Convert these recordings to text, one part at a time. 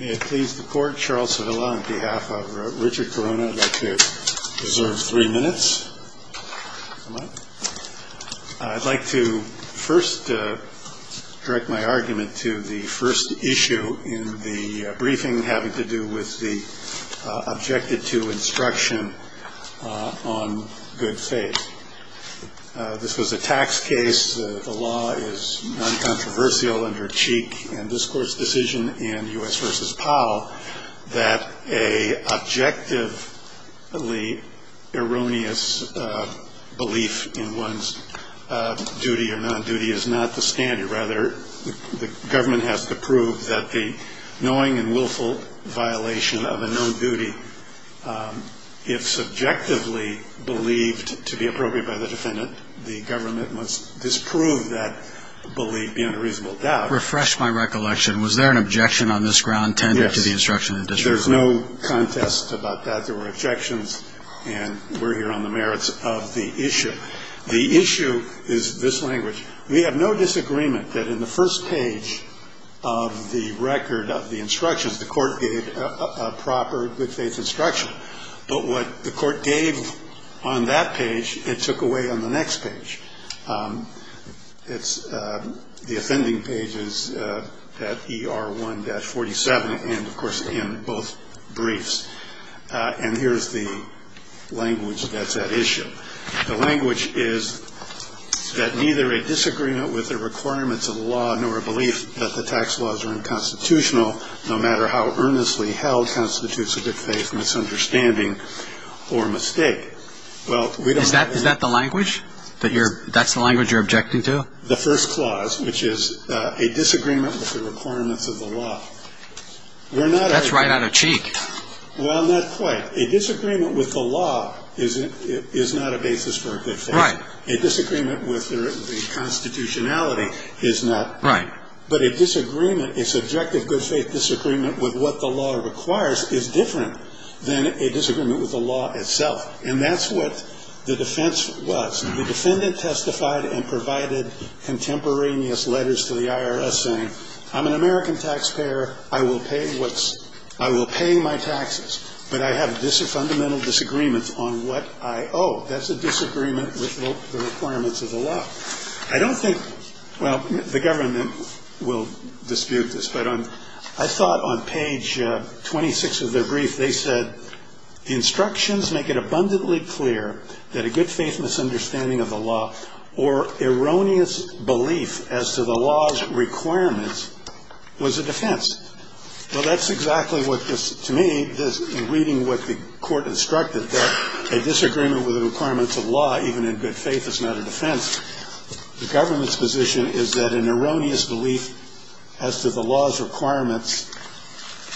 May it please the court, Charles Sevilla on behalf of Richard Corona, I'd like to reserve three minutes. I'd like to first direct my argument to the first issue in the briefing having to do with the objected to instruction on good faith. This was a tax case, the law is non-controversial under Cheek and this court's decision in U.S. v. Powell that a objectively erroneous belief in one's duty or non-duty is not the standard. Rather, the government has to prove that the knowing and willful violation of a non-duty if subjectively believed to be appropriate by the defendant, the government must disprove that belief beyond a reasonable doubt. Refresh my recollection. Was there an objection on this ground tended to the instruction? There's no contest about that. There were objections and we're here on the merits of the issue. The issue is this language. We have no disagreement that in the first page of the record of the instructions, the court gave a proper good faith instruction. But what the court gave on that page, it took away on the next page. It's the offending pages at ER1-47 and, of course, in both briefs. And here's the language that's at issue. The language is that neither a disagreement with the requirements of the law nor a belief that the tax laws are unconstitutional, no matter how earnestly held constitutes a good faith misunderstanding or mistake. Is that the language? That's the language you're objecting to? The first clause, which is a disagreement with the requirements of the law. That's right out of cheek. Well, not quite. A disagreement with the law is not a basis for a good faith. Right. A disagreement with the constitutionality is not. Right. But a disagreement, a subjective good faith disagreement with what the law requires is different than a disagreement with the law itself. And that's what the defense was. The defendant testified and provided contemporaneous letters to the IRS saying, I'm an American taxpayer. I will pay my taxes. But I have a fundamental disagreement on what I owe. That's a disagreement with the requirements of the law. I don't think, well, the government will dispute this, but I thought on page 26 of their brief they said, instructions make it abundantly clear that a good faith misunderstanding of the law or erroneous belief as to the law's requirements was a defense. Well, that's exactly what this, to me, in reading what the court instructed, that a disagreement with the requirements of law, even in good faith, is not a defense. The government's position is that an erroneous belief as to the law's requirements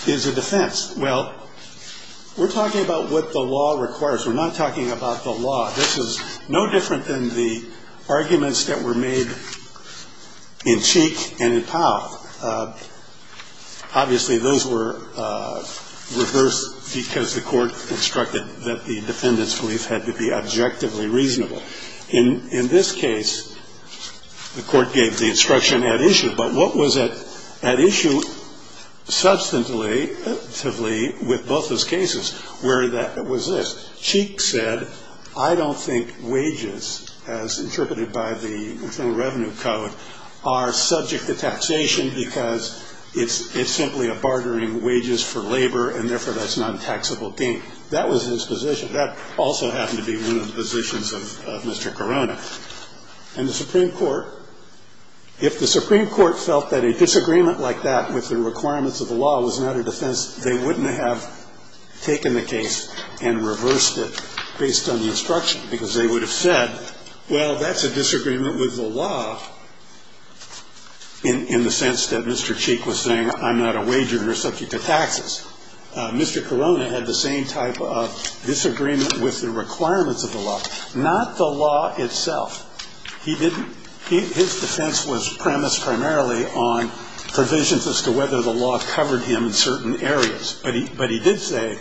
is a defense. Well, we're talking about what the law requires. We're not talking about the law. This is no different than the arguments that were made in Cheek and in Powell. Obviously, those were reversed because the court instructed that the defendant's belief had to be objectively reasonable. In this case, the court gave the instruction at issue. But what was at issue substantively with both those cases? Where that was this. Cheek said, I don't think wages, as interpreted by the Internal Revenue Code, are subject to taxation because it's simply a bartering wages for labor, and therefore that's not a taxable gain. That was his position. That also happened to be one of the positions of Mr. Corona. And the Supreme Court, if the Supreme Court felt that a disagreement like that with the requirements of the law was not a defense, they wouldn't have taken the case and reversed it based on the instruction because they would have said, well, that's a disagreement with the law in the sense that Mr. Cheek was saying I'm not a wager and you're subject to taxes. Mr. Corona had the same type of disagreement with the requirements of the law, not the law itself. He didn't. His defense was premised primarily on provisions as to whether the law covered him in certain areas. But he did say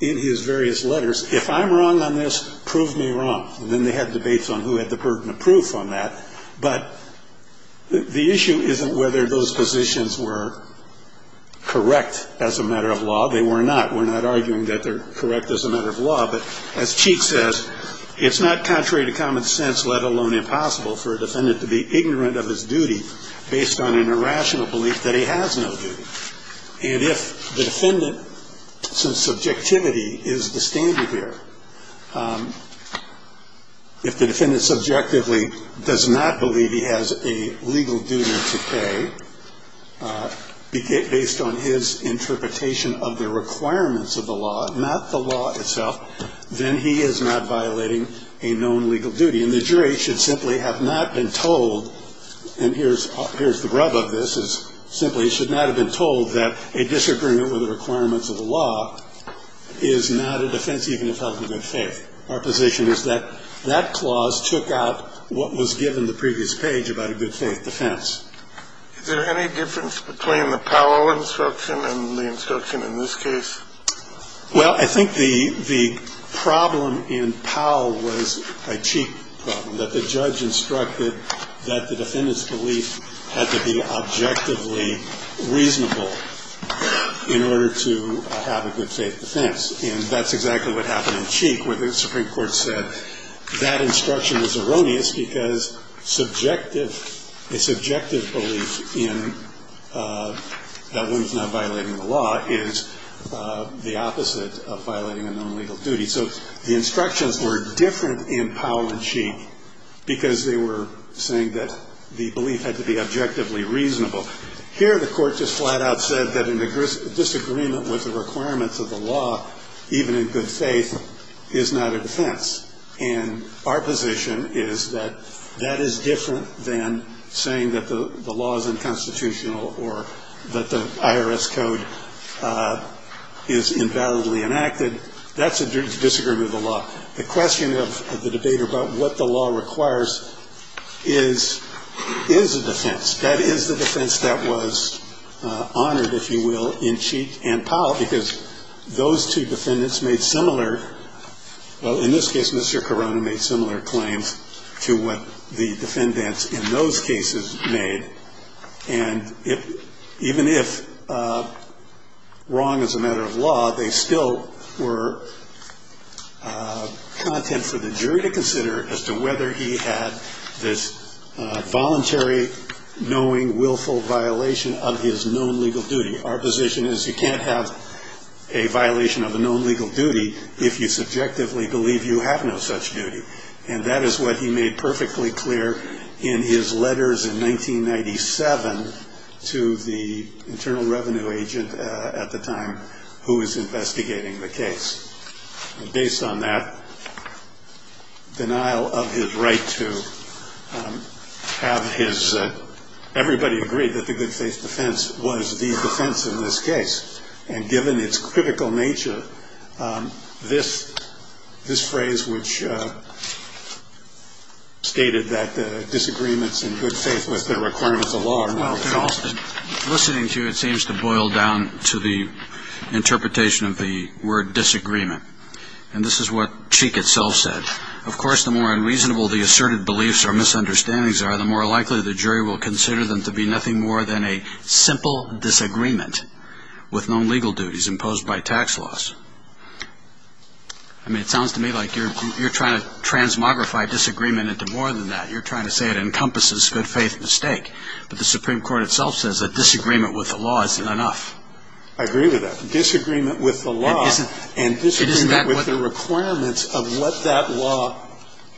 in his various letters, if I'm wrong on this, prove me wrong. And then they had debates on who had the burden of proof on that. But the issue isn't whether those positions were correct as a matter of law. They were not. We're not arguing that they're correct as a matter of law. But as Cheek says, it's not contrary to common sense, let alone impossible for a defendant to be ignorant of his duty based on an irrational belief that he has no duty. And if the defendant, since subjectivity is the standard here, if the defendant subjectively does not believe he has a legal duty to pay, based on his interpretation of the requirements of the law, not the law itself, then he is not violating a known legal duty. And the jury should simply have not been told, and here's the rub of this, is simply should not have been told that a disagreement with the requirements of the law is not a defense even if held in good faith. Our position is that that clause took out what was given the previous page about a good faith defense. Kennedy. Is there any difference between the Powell instruction and the instruction in this case? Well, I think the problem in Powell was a Cheek problem, that the judge instructed that the defendant's belief had to be objectively reasonable in order to have a good faith defense. And that's exactly what happened in Cheek where the Supreme Court said that instruction was erroneous because subjective, a subjective belief in that one's not violating the law is the opposite of violating a known legal duty. So the instructions were different in Powell and Cheek because they were saying that the belief had to be objectively reasonable. Here the court just flat out said that a disagreement with the requirements of the law, even in good faith, is not a defense. And our position is that that is different than saying that the law is unconstitutional or that the IRS code is invalidly enacted. That's a disagreement with the law. The question of the debate about what the law requires is, is a defense. That is the defense that was honored, if you will, in Cheek and Powell because those two defendants made similar, well, in this case Mr. Carano made similar claims to what the defendants in those cases made. And even if wrong is a matter of law, they still were content for the jury to consider as to whether he had this voluntary, knowing, willful violation of his known legal duty. Our position is you can't have a violation of a known legal duty if you subjectively believe you have no such duty. And that is what he made perfectly clear in his letters in 1997 to the internal revenue agent at the time who was investigating the case. And based on that, denial of his right to have his, everybody agreed that the good faith defense was the defense in this case. And given its critical nature, this phrase which stated that disagreements in good faith with the requirements of law are not at all. Listening to you, it seems to boil down to the interpretation of the word disagreement. And this is what Cheek itself said. Of course, the more unreasonable the asserted beliefs or misunderstandings are, the more likely the jury will consider them to be nothing more than a simple disagreement with known legal duties imposed by tax laws. I mean, it sounds to me like you're trying to transmogrify disagreement into more than that. You're trying to say it encompasses good faith mistake. But the Supreme Court itself says that disagreement with the law isn't enough. I agree with that. Disagreement with the law and disagreement with the requirements of what that law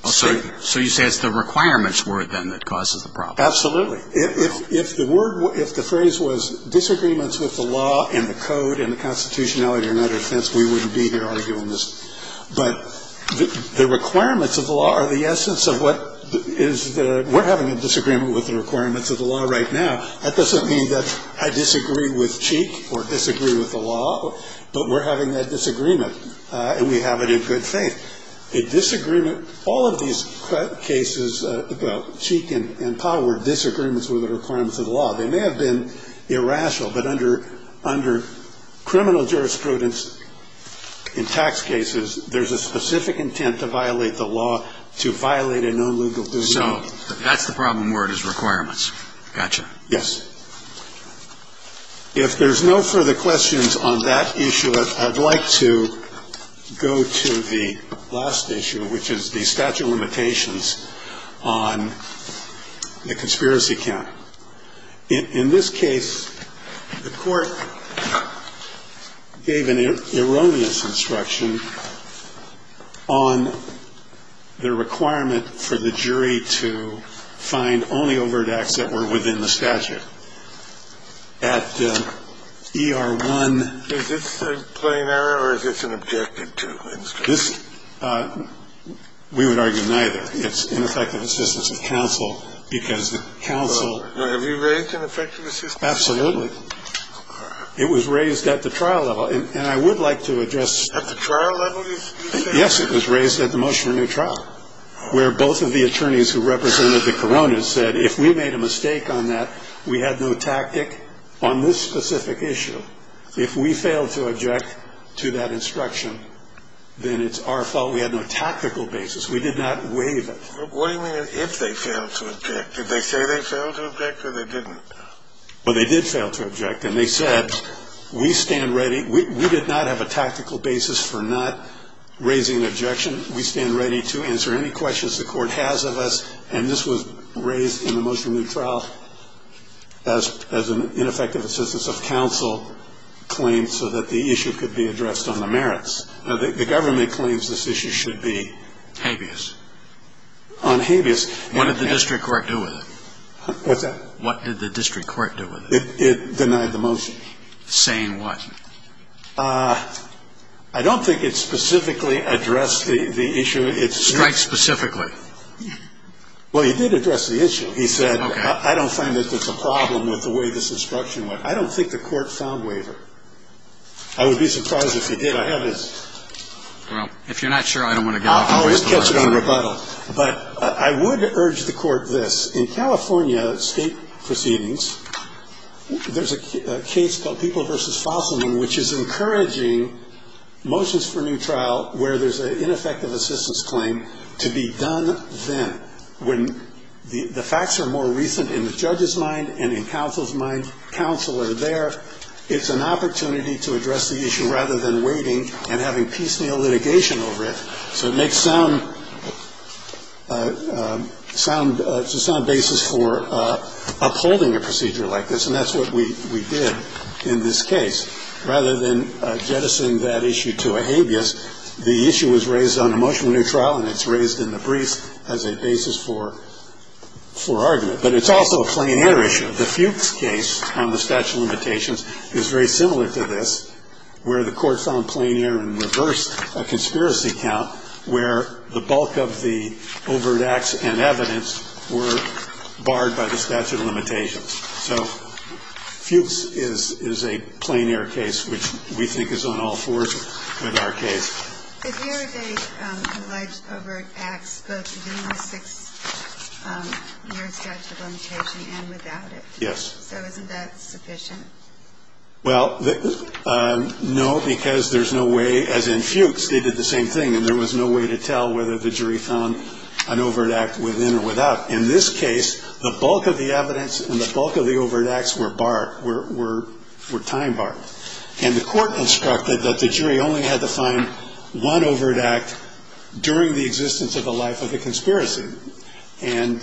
stated. So you say it's the requirements word then that causes the problem. Absolutely. If the word, if the phrase was disagreements with the law and the code and the constitutionality and other defense, we wouldn't be here arguing this. But the requirements of the law are the essence of what is the, we're having a disagreement with the requirements of the law right now. That doesn't mean that I disagree with Cheek or disagree with the law. But we're having that disagreement. And we have it in good faith. A disagreement, all of these cases about Cheek and Powell were disagreements with the requirements of the law. They may have been irrational, but under criminal jurisprudence in tax cases, there's a specific intent to violate the law, to violate a known legal duty. So that's the problem word is requirements. Gotcha. Yes. If there's no further questions on that issue, I'd like to go to the last issue, which is the statute of limitations on the conspiracy count. In this case, the court gave an erroneous instruction on the requirement for the jury to find only overt acts that were within the statute. At ER1. Is this a plain error or is this an objective too? This, we would argue neither. It's ineffective assistance of counsel because counsel. Have you raised ineffective assistance? Absolutely. It was raised at the trial level. And I would like to address. At the trial level? Yes, it was raised at the motion of new trial, where both of the attorneys who represented the Corona said, if we made a mistake on that, we had no tactic on this specific issue. If we failed to object to that instruction, then it's our fault. We had no tactical basis. We did not waive it. What do you mean if they failed to object? Did they say they failed to object or they didn't? Well, they did fail to object. And they said, we stand ready. We did not have a tactical basis for not raising an objection. We stand ready to answer any questions the Court has of us. And this was raised in the motion of new trial as an ineffective assistance of counsel claimed so that the issue could be addressed on the merits. The government claims this issue should be. Habeas. On habeas. What did the district court do with it? What's that? What did the district court do with it? It denied the motion. Saying what? I don't think it specifically addressed the issue. It's right specifically. Well, he did address the issue. He said, I don't find that there's a problem with the way this instruction went. I don't think the Court found waiver. I would be surprised if he did. I have his. Well, if you're not sure, I don't want to get off your list. I'll just catch it on rebuttal. But I would urge the Court this. In California state proceedings, there's a case called People v. Fossil, which is encouraging motions for new trial where there's an ineffective assistance claim to be done then. When the facts are more recent in the judge's mind and in counsel's mind, counsel are there, it's an opportunity to address the issue rather than waiting and having piecemeal litigation over it. So it makes sound basis for upholding a proceeding. And that's what we did in this case. Rather than jettisoning that issue to a habeas, the issue was raised on a motion for new trial, and it's raised in the briefs as a basis for argument. But it's also a plein air issue. The Fuchs case on the statute of limitations is very similar to this, where the Court found plein air and reversed a conspiracy count where the bulk of the overt acts and evidence were barred by the statute of limitations. So Fuchs is a plein air case, which we think is on all fours with our case. If here they allege overt acts both within the six-year statute of limitation and without it. Yes. So isn't that sufficient? Well, no, because there's no way, as in Fuchs, they did the same thing, and there was no way to tell whether the jury found an overt act within or without. In this case, the bulk of the evidence and the bulk of the overt acts were barred, were time barred. And the Court instructed that the jury only had to find one overt act during the existence of the life of the conspiracy. And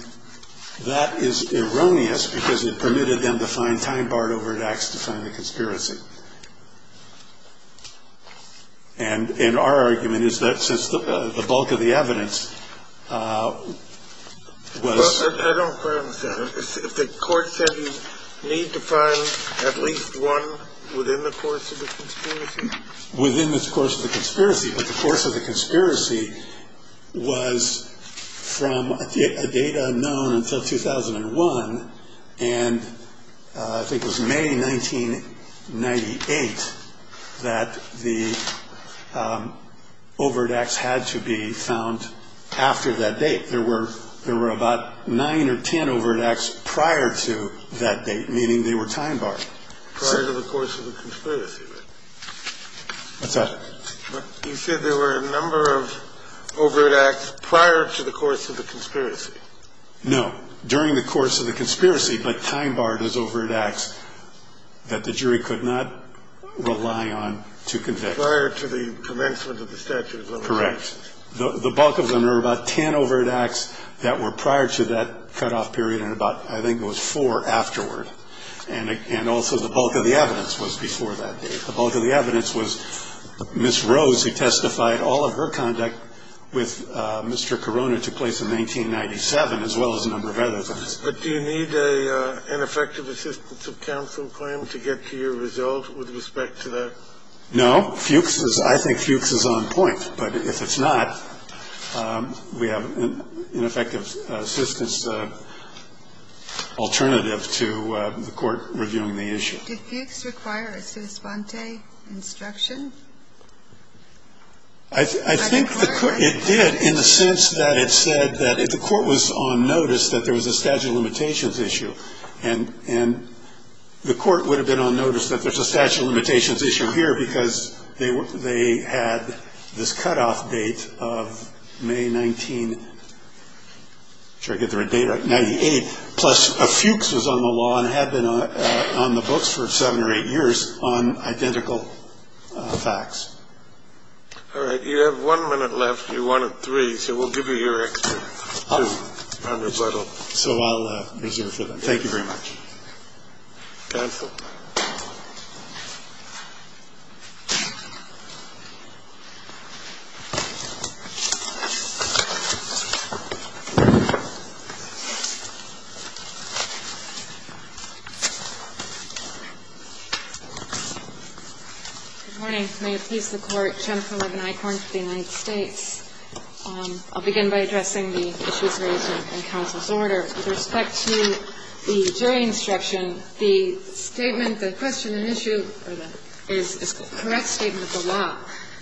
that is erroneous because it permitted them to find time-barred overt acts to find the conspiracy. And our argument is that since the bulk of the evidence was... I don't quite understand. If the Court said you need to find at least one within the course of the conspiracy? Within the course of the conspiracy. But the course of the conspiracy was from a date unknown until 2001, and I think it was May 1998 that the overt acts had to be found after that date. There were about nine or ten overt acts prior to that date, meaning they were time-barred. Prior to the course of the conspiracy, right? What's that? You said there were a number of overt acts prior to the course of the conspiracy. No. During the course of the conspiracy, but time-barred as overt acts that the jury could not rely on to convict. Prior to the commencement of the statute of limitations. Correct. The bulk of them were about ten overt acts that were prior to that cutoff period and about, I think it was four afterward. And also the bulk of the evidence was before that date. The bulk of the evidence was Ms. Rose who testified. All of her conduct with Mr. Corona took place in 1997, as well as a number of other things. But do you need an effective assistance of counsel claim to get to your result with respect to that? No. Fuchs is, I think Fuchs is on point. But if it's not, we have an effective assistance alternative to the Court reviewing the issue. Did Fuchs require a sua sponte instruction? I think it did in the sense that it said that if the Court was on notice that there was a statute of limitations issue. And the Court would have been on notice that there's a statute of limitations issue here because they had this cutoff date of May 19. Plus Fuchs was on the law and had been on the books for seven or eight years on identical facts. All right. You have one minute left. You're one of three. So we'll give you your extra. So I'll reserve for that. Thank you very much. Counsel. Good morning. May it please the Court. Jennifer Levin-Eichhorn for the United States. I'll begin by addressing the issues raised in counsel's order. With respect to the jury instruction, the statement, the question and issue is a correct statement of the law.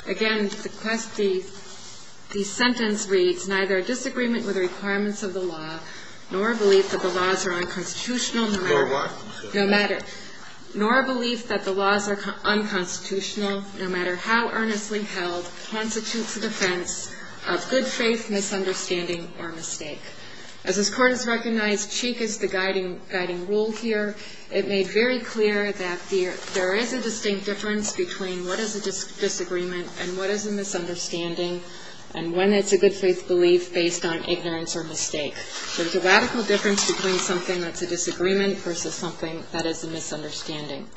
Again, the sentence reads, Neither a disagreement with the requirements of the law, nor a belief that the laws are unconstitutional. Nor what? No matter. Nor a belief that the laws are unconstitutional, no matter how earnestly held, constitutes a defense of good faith misunderstanding or mistake. As this Court has recognized, Cheek is the guiding rule here. It made very clear that there is a distinct difference between what is a disagreement and what is a misunderstanding and when it's a good faith belief based on ignorance or mistake. There's a radical difference between something that's a disagreement versus something that is a misunderstanding.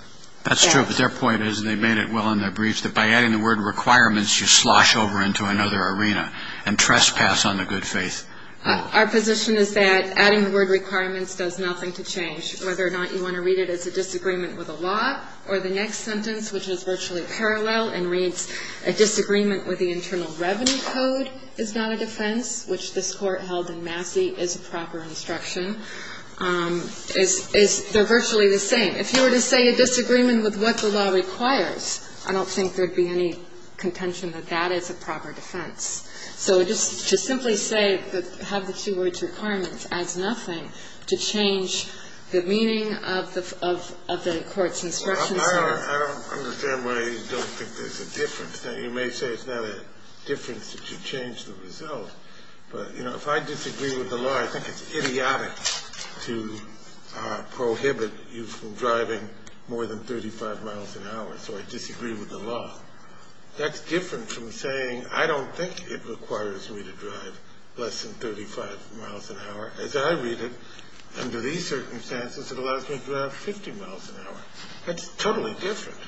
That's true. But their point is, and they made it well in their briefs, that by adding the word requirements, you slosh over into another arena and trespass on the good faith. Our position is that adding the word requirements does nothing to change. Whether or not you want to read it as a disagreement with the law or the next sentence, which is virtually parallel and reads, A disagreement with the internal revenue code is not a defense, which this Court held in Massey is a proper instruction. They're virtually the same. If you were to say a disagreement with what the law requires, I don't think there would be any contention that that is a proper defense. So just to simply say have the two words requirements adds nothing to change the meaning of the Court's instructions. I don't understand why you don't think there's a difference. Now, you may say it's not a difference that you change the result, but, you know, if I disagree with the law, I think it's idiotic to prohibit you from driving more than 35 miles an hour, so I disagree with the law. That's different from saying I don't think it requires me to drive less than 35 miles an hour. As I read it, under these circumstances, it allows me to drive 50 miles an hour. That's totally different.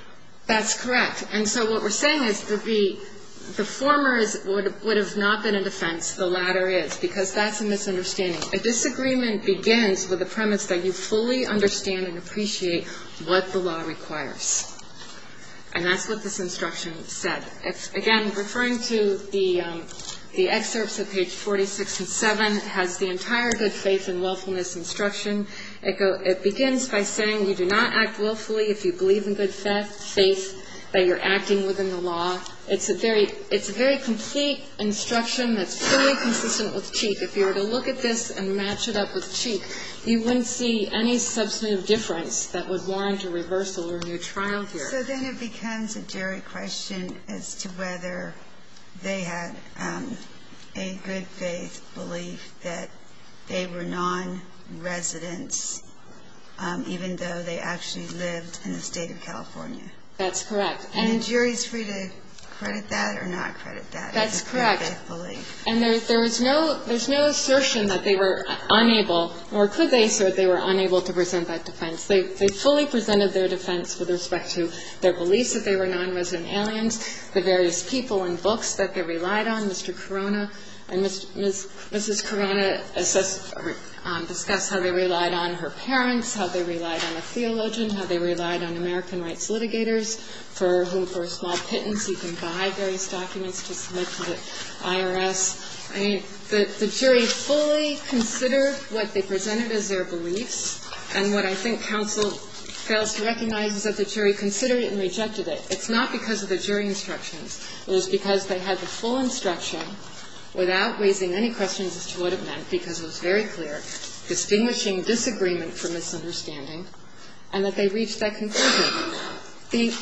That's correct. And so what we're saying is that the former would have not been a defense. The latter is, because that's a misunderstanding. A disagreement begins with a premise that you fully understand and appreciate what the law requires. And that's what this instruction said. Again, referring to the excerpts of page 46 and 7, it has the entire good faith and willfulness instruction. It begins by saying you do not act willfully if you believe in good faith, that you're acting within the law. It's a very complete instruction that's fully consistent with Cheek. If you were to look at this and match it up with Cheek, you wouldn't see any substantive difference that would warrant a reversal or a new trial here. So then it becomes a jury question as to whether they had a good faith belief that they were non-residents, even though they actually lived in the state of California. That's correct. And a jury's free to credit that or not credit that. That's correct. It's a good faith belief. And there's no assertion that they were unable or could they assert they were unable to present that defense. They fully presented their defense with respect to their beliefs that they were non-resident aliens, the various people and books that they relied on. Mr. Corona and Mrs. Corona discussed how they relied on her parents, how they relied on a theologian, how they relied on American rights litigators for whom, for a small pittance, you can buy various documents to submit to the IRS. I mean, the jury fully considered what they presented as their beliefs. And what I think counsel fails to recognize is that the jury considered it and rejected it. It's not because of the jury instructions. It was because they had the full instruction without raising any questions as to what it meant, because it was very clear, distinguishing disagreement from misunderstanding, and that they reached that conclusion.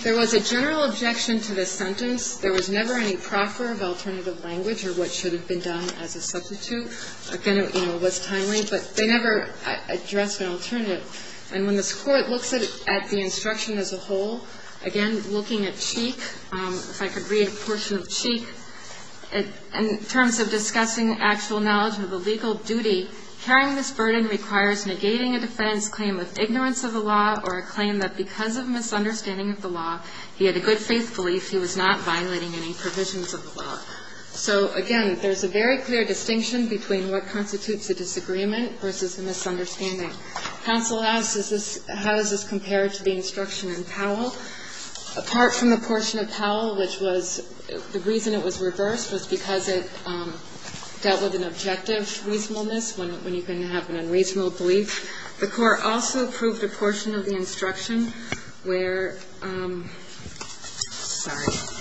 There was a general objection to this sentence. There was never any proffer of alternative language or what should have been done as a substitute. Again, it was timely, but they never addressed an alternative. And when this Court looks at the instruction as a whole, again, looking at Cheek, if I could read a portion of Cheek, in terms of discussing actual knowledge of the legal duty, carrying this burden requires negating a defense claim with ignorance of the law or a claim that because of a misunderstanding of the law, he had a good faith belief he was not violating any provisions of the law. So, again, there's a very clear distinction between what constitutes a disagreement versus a misunderstanding. Counsel asks, how does this compare to the instruction in Powell? Apart from the portion of Powell, which was the reason it was reversed, was because it dealt with an objective reasonableness when you can have an unreasonable belief. The Court also approved a portion of the instruction where – sorry –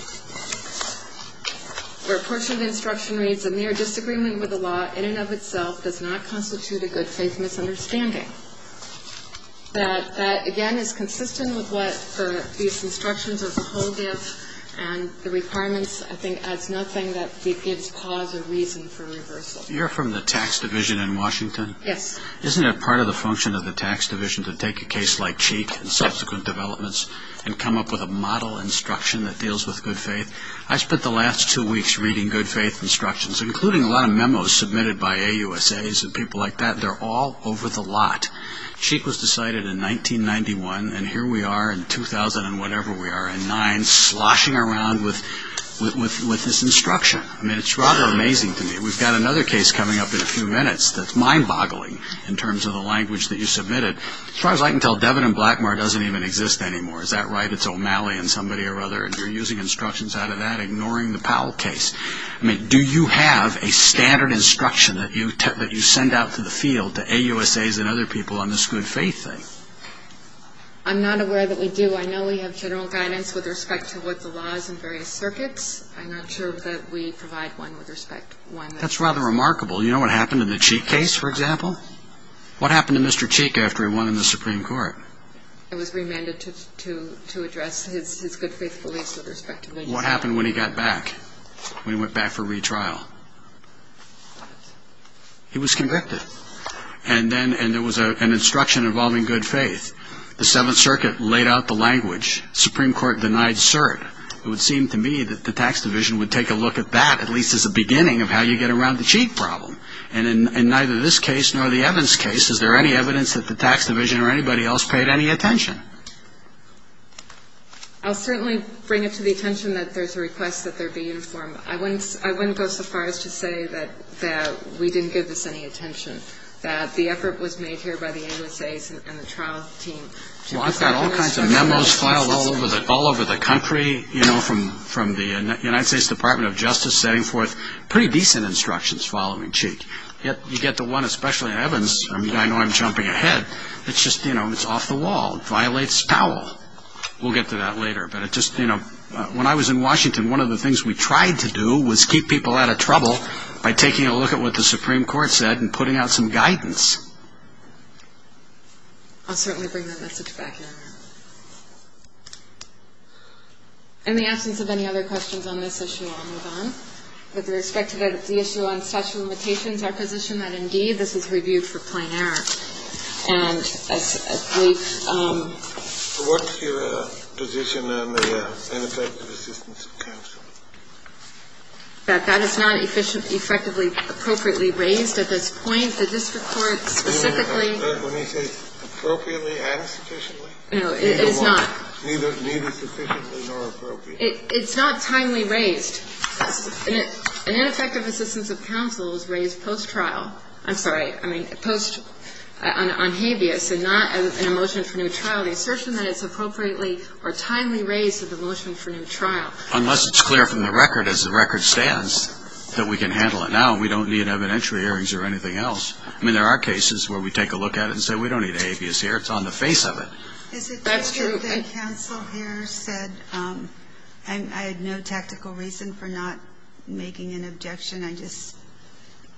where a portion of the instruction reads, a mere disagreement with the law in and of itself does not constitute a good faith misunderstanding. That, again, is consistent with what these instructions as a whole give, and the requirements, I think, adds nothing that gives cause or reason for reversal. You're from the tax division in Washington? Yes. Isn't it part of the function of the tax division to take a case like Cheek and subsequent developments and come up with a model instruction that deals with good faith? I spent the last two weeks reading good faith instructions, including a lot of memos submitted by AUSAs and people like that. They're all over the lot. Cheek was decided in 1991, and here we are in 2000 and whatever we are, in nine, sloshing around with this instruction. I mean, it's rather amazing to me. We've got another case coming up in a few minutes that's mind-boggling in terms of the language that you submitted. As far as I can tell, Devin and Blackmar doesn't even exist anymore. Is that right? It's O'Malley and somebody or other, and you're using instructions out of that, ignoring the Powell case. I mean, do you have a standard instruction that you send out to the field, to AUSAs and other people on this good faith thing? I'm not aware that we do. I know we have general guidance with respect to what the law is in various circuits. I'm not sure that we provide one with respect. That's rather remarkable. You know what happened in the Cheek case, for example? What happened to Mr. Cheek after he won in the Supreme Court? He was remanded to address his good faith beliefs with respect to the legislation. What happened when he got back, when he went back for retrial? He was convicted, and there was an instruction involving good faith. The Seventh Circuit laid out the language. The Supreme Court denied cert. It would seem to me that the Tax Division would take a look at that, at least as a beginning of how you get around the Cheek problem. And in neither this case nor the Evans case, is there any evidence that the Tax Division or anybody else paid any attention? I'll certainly bring it to the attention that there's a request that there be uniform. I wouldn't go so far as to say that we didn't give this any attention, that the effort was made here by the AUSAs and the trial team. Well, I've got all kinds of memos filed all over the country, you know, from the United States Department of Justice, setting forth pretty decent instructions following Cheek. Yet you get the one, especially in Evans, I know I'm jumping ahead, it's just, you know, it's off the wall. It violates Powell. We'll get to that later. But it just, you know, when I was in Washington, one of the things we tried to do was keep people out of trouble by taking a look at what the Supreme Court said and putting out some guidance. I'll certainly bring that message back in. In the absence of any other questions on this issue, I'll move on. With respect to the issue on statute of limitations, our position that, indeed, this is reviewed for plain error. And as we've... What's your position on the ineffective assistance of counsel? That that is not effectively appropriately raised at this point. The district court specifically... When you say appropriately and sufficiently? No, it is not. Neither sufficiently nor appropriately. It's not timely raised. An ineffective assistance of counsel is raised post-trial. I'm sorry. I mean post on habeas and not in a motion for new trial. The assertion that it's appropriately or timely raised is a motion for new trial. Unless it's clear from the record, as the record stands, that we can handle it now and we don't need evidentiary hearings or anything else. I mean, there are cases where we take a look at it and say, we don't need a habeas here, it's on the face of it. That's true. Is it true that counsel here said, I had no tactical reason for not making an objection, I just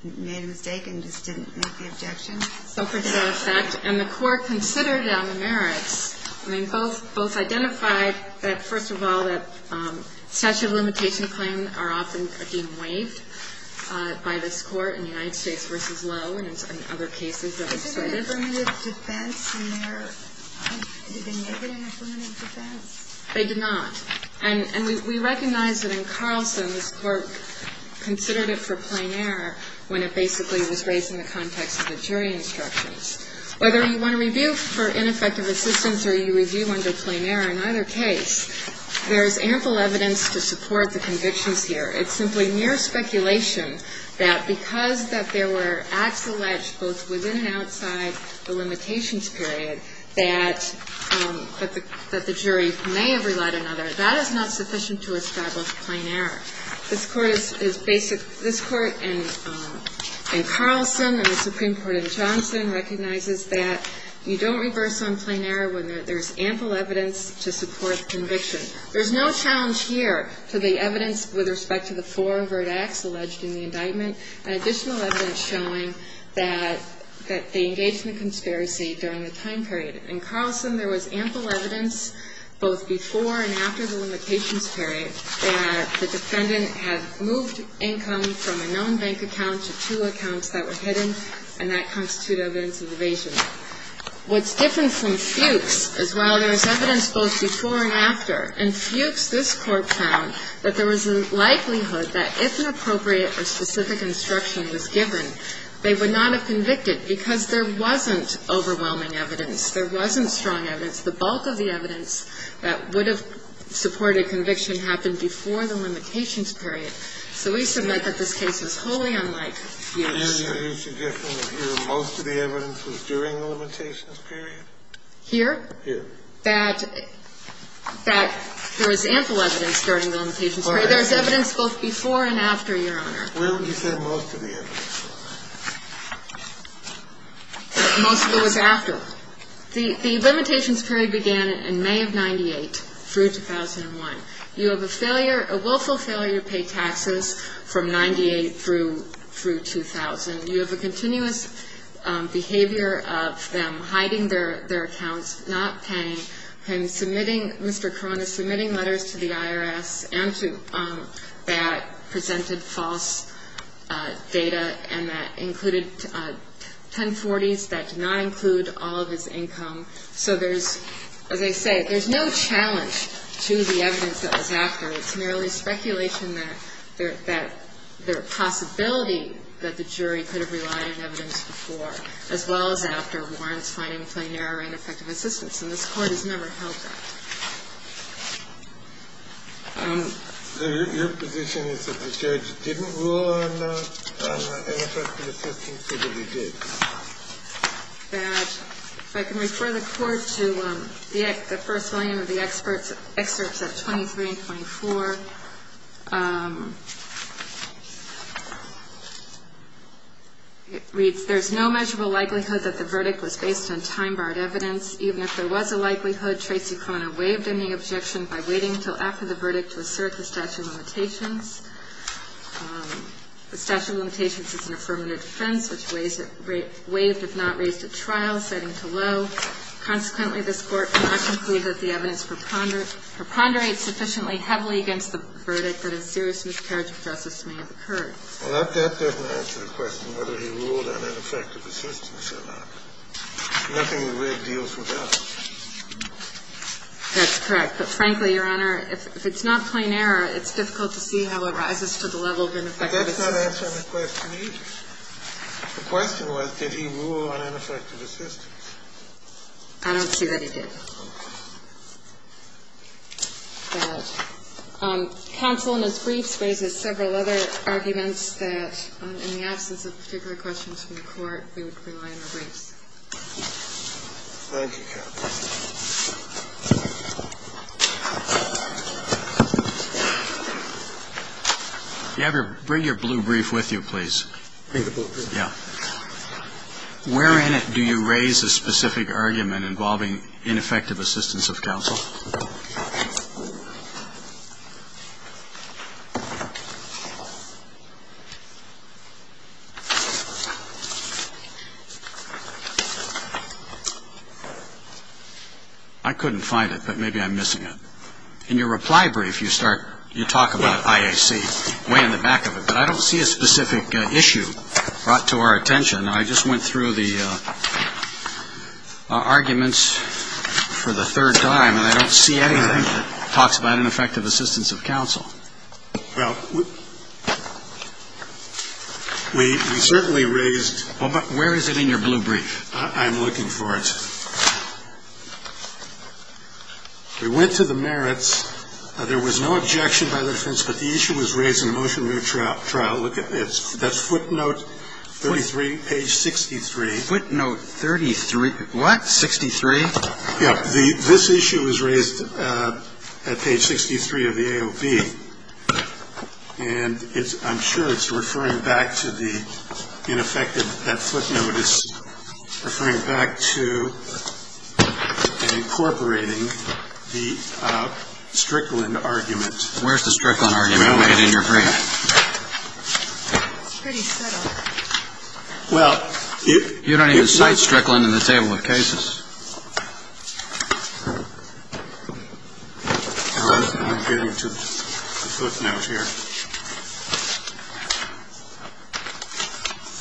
made a mistake and just didn't make the objection? So for that effect. And the court considered it on the merits. I mean, both identified that, first of all, that statute of limitation claims are often deemed waived by this Court in the United States v. Lowe and in other cases that we've studied. Isn't there an affirmative defense in there? Did they make it an affirmative defense? They did not. And we recognize that in Carlson, this Court considered it for plain error when it basically was raised in the context of the jury instructions. Whether you want to review for ineffective assistance or you review under plain error, in either case, there's ample evidence to support the convictions here. It's simply mere speculation that because that there were acts alleged both within and outside the limitations period that the jury may have relied on other. That is not sufficient to establish plain error. This Court is basic. This Court in Carlson and the Supreme Court in Johnson recognizes that you don't reverse on plain error when there's ample evidence to support the conviction. There's no challenge here to the evidence with respect to the four overt acts alleged in the indictment and additional evidence showing that they engaged in a conspiracy during the time period. In Carlson, there was ample evidence both before and after the limitations period that the defendant had moved income from a known bank account to two accounts that were hidden, and that constitutes evidence of evasion. What's different from Fuchs is while there is evidence both before and after, in Fuchs this Court found that there was a likelihood that if an appropriate or specific instruction was given, they would not have convicted because there wasn't overwhelming evidence. There wasn't strong evidence. The bulk of the evidence that would have supported conviction happened before the limitations period. So we submit that this case is wholly unlike Fuchs. Sotomayor, you're suggesting that here most of the evidence was during the limitations period? Here? Here. That there was ample evidence during the limitations period. All right. There's evidence both before and after, Your Honor. Well, you said most of the evidence. Most of it was after. The limitations period began in May of 98 through 2001. You have a failure, a willful failure to pay taxes from 98 through 2000. You have a continuous behavior of them hiding their accounts, not paying. Him submitting, Mr. Cronin submitting letters to the IRS and to that presented false data, and that included 1040s. That did not include all of his income. So there's, as I say, there's no challenge to the evidence that was after. It's merely speculation that there are possibility that the jury could have relied on evidence before, as well as after, warrants finding plain error and ineffective assistance. And this Court has never held that. Your position is that the judge didn't rule on ineffective assistance, or that he did? If I can refer the Court to the first line of the excerpts at 23 and 24. It reads, There's no measurable likelihood that the verdict was based on time-barred evidence. Even if there was a likelihood, Tracy Cronin waived any objection by waiting until after the verdict to assert the statute of limitations. The statute of limitations is an affirmative defense, which waived if not raised at trial, setting to low. Consequently, this Court cannot conclude that the evidence preponderates sufficiently heavily against the verdict that a serious miscarriage of justice may have occurred. Well, that doesn't answer the question whether he ruled on ineffective assistance or not. Nothing we read deals with that. That's correct. Frankly, Your Honor, if it's not plain error, it's difficult to see how it rises to the level of ineffective assistance. That's not answering the question either. The question was, did he rule on ineffective assistance? I don't see that he did. Counsel in his briefs raises several other arguments that, in the absence of particular questions from the Court, we would rely on the briefs. Thank you, counsel. You have your – bring your blue brief with you, please. Bring the blue brief? Yeah. Where in it do you raise a specific argument involving ineffective assistance of counsel? I couldn't find it, but maybe I'm missing it. In your reply brief, you start – you talk about IAC way in the back of it, but I don't see a specific issue brought to our attention. I just went through the arguments for the third time, and I don't see anything that talks about ineffective assistance of counsel. Well, we certainly raised – Well, but where is it in your blue brief? I'm looking for it. We went to the merits. There was no objection by the defense, but the issue was raised in the motion of your trial. In the motion of your trial, look at this. That's footnote 33, page 63. Footnote 33 – what? 63? Yeah. This issue was raised at page 63 of the AOB, and it's – I'm sure it's referring back to the ineffective – that footnote is referring back to incorporating the Strickland argument. Where's the Strickland argument made in your brief? It's pretty subtle. Well, it – You don't even cite Strickland in the table of cases. I'm getting to the footnote here.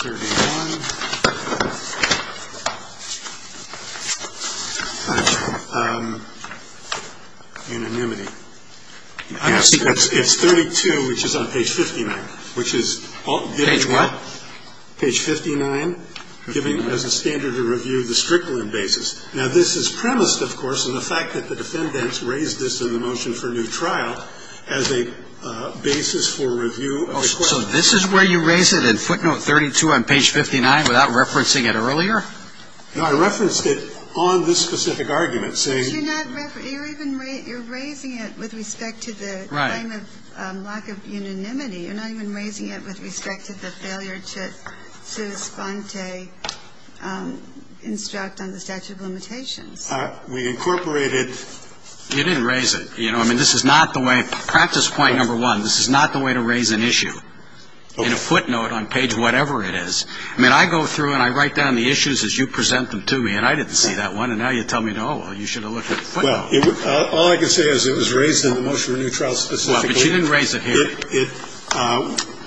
31. Unanimity. It's 32, which is on page 59, which is – Page what? Page 59, giving as a standard of review the Strickland basis. Now, this is premised, of course, in the fact that the defendants raised this in the motion for new trial as a basis for review. So this is where you raise it, in footnote 32 on page 59, without referencing it earlier? No, I referenced it on this specific argument, saying – But you're not – you're even – you're raising it with respect to the claim of lack of unanimity. You're not even raising it with respect to the failure to Sus sponte instruct on the statute of limitations. We incorporated – You didn't raise it. You know, I mean, this is not the way – practice point number one, this is not the way to raise an issue in a footnote on page whatever it is. I mean, I go through and I write down the issues as you present them to me, and I didn't see that one, and now you tell me, oh, well, you should have looked at the footnote. Well, all I can say is it was raised in the motion for new trial specifically. Well, but you didn't raise it here. It –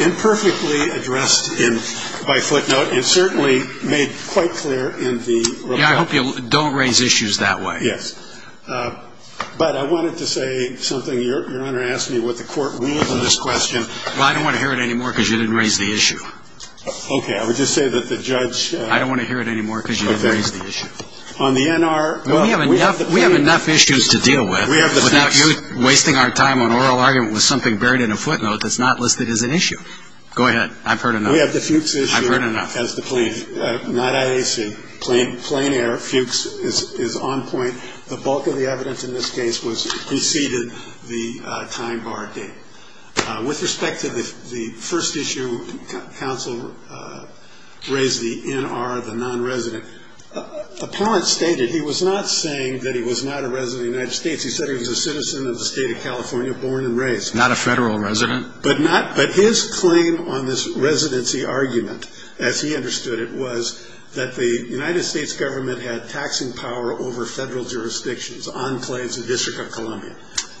imperfectly addressed in – by footnote, and certainly made quite clear in the – Yeah, I hope you don't raise issues that way. Yes. But I wanted to say something. Your Honor asked me what the court will on this question. Well, I don't want to hear it anymore because you didn't raise the issue. Okay. I would just say that the judge – I don't want to hear it anymore because you didn't raise the issue. Okay. On the NR – We have enough issues to deal with without you wasting our time on oral argument with something buried in a footnote that's not listed as an issue. Go ahead. I've heard enough. We have the Fuchs issue. I've heard enough. As the plain – not IAC. Plain air, Fuchs is on point. The bulk of the evidence in this case was – preceded the time bar date. With respect to the first issue, counsel raised the NR, the non-resident. Apparent stated he was not saying that he was not a resident of the United States. He said he was a citizen of the state of California, born and raised. Not a federal resident. But not – but his claim on this residency argument, as he understood it, was that the United States government had taxing power over federal jurisdictions on claims of the District of Columbia.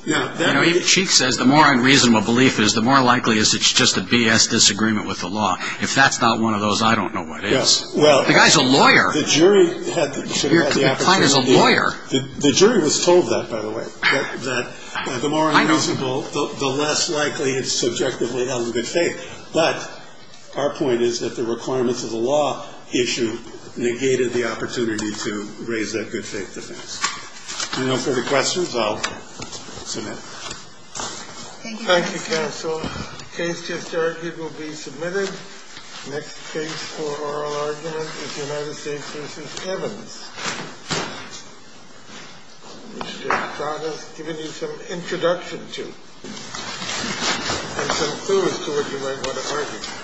Now that – You know, even Cheek says the more unreasonable belief is, the more likely is it's just a BS disagreement with the law. If that's not one of those, I don't know what is. Well – The guy's a lawyer. The jury had the – should have had the opportunity – Your client is a lawyer. The jury was told that, by the way. That the more unreasonable – I know. The less likely it's subjectively out of good faith. But our point is that the requirements of the law issue negated the opportunity to raise that good faith defense. If there are no further questions, I'll submit. Thank you. Thank you, counsel. The case just argued will be submitted. Next case for oral argument is United States v. Evans. Mr. Ostrada has given you some introduction to, and some clues to what you might want to argue.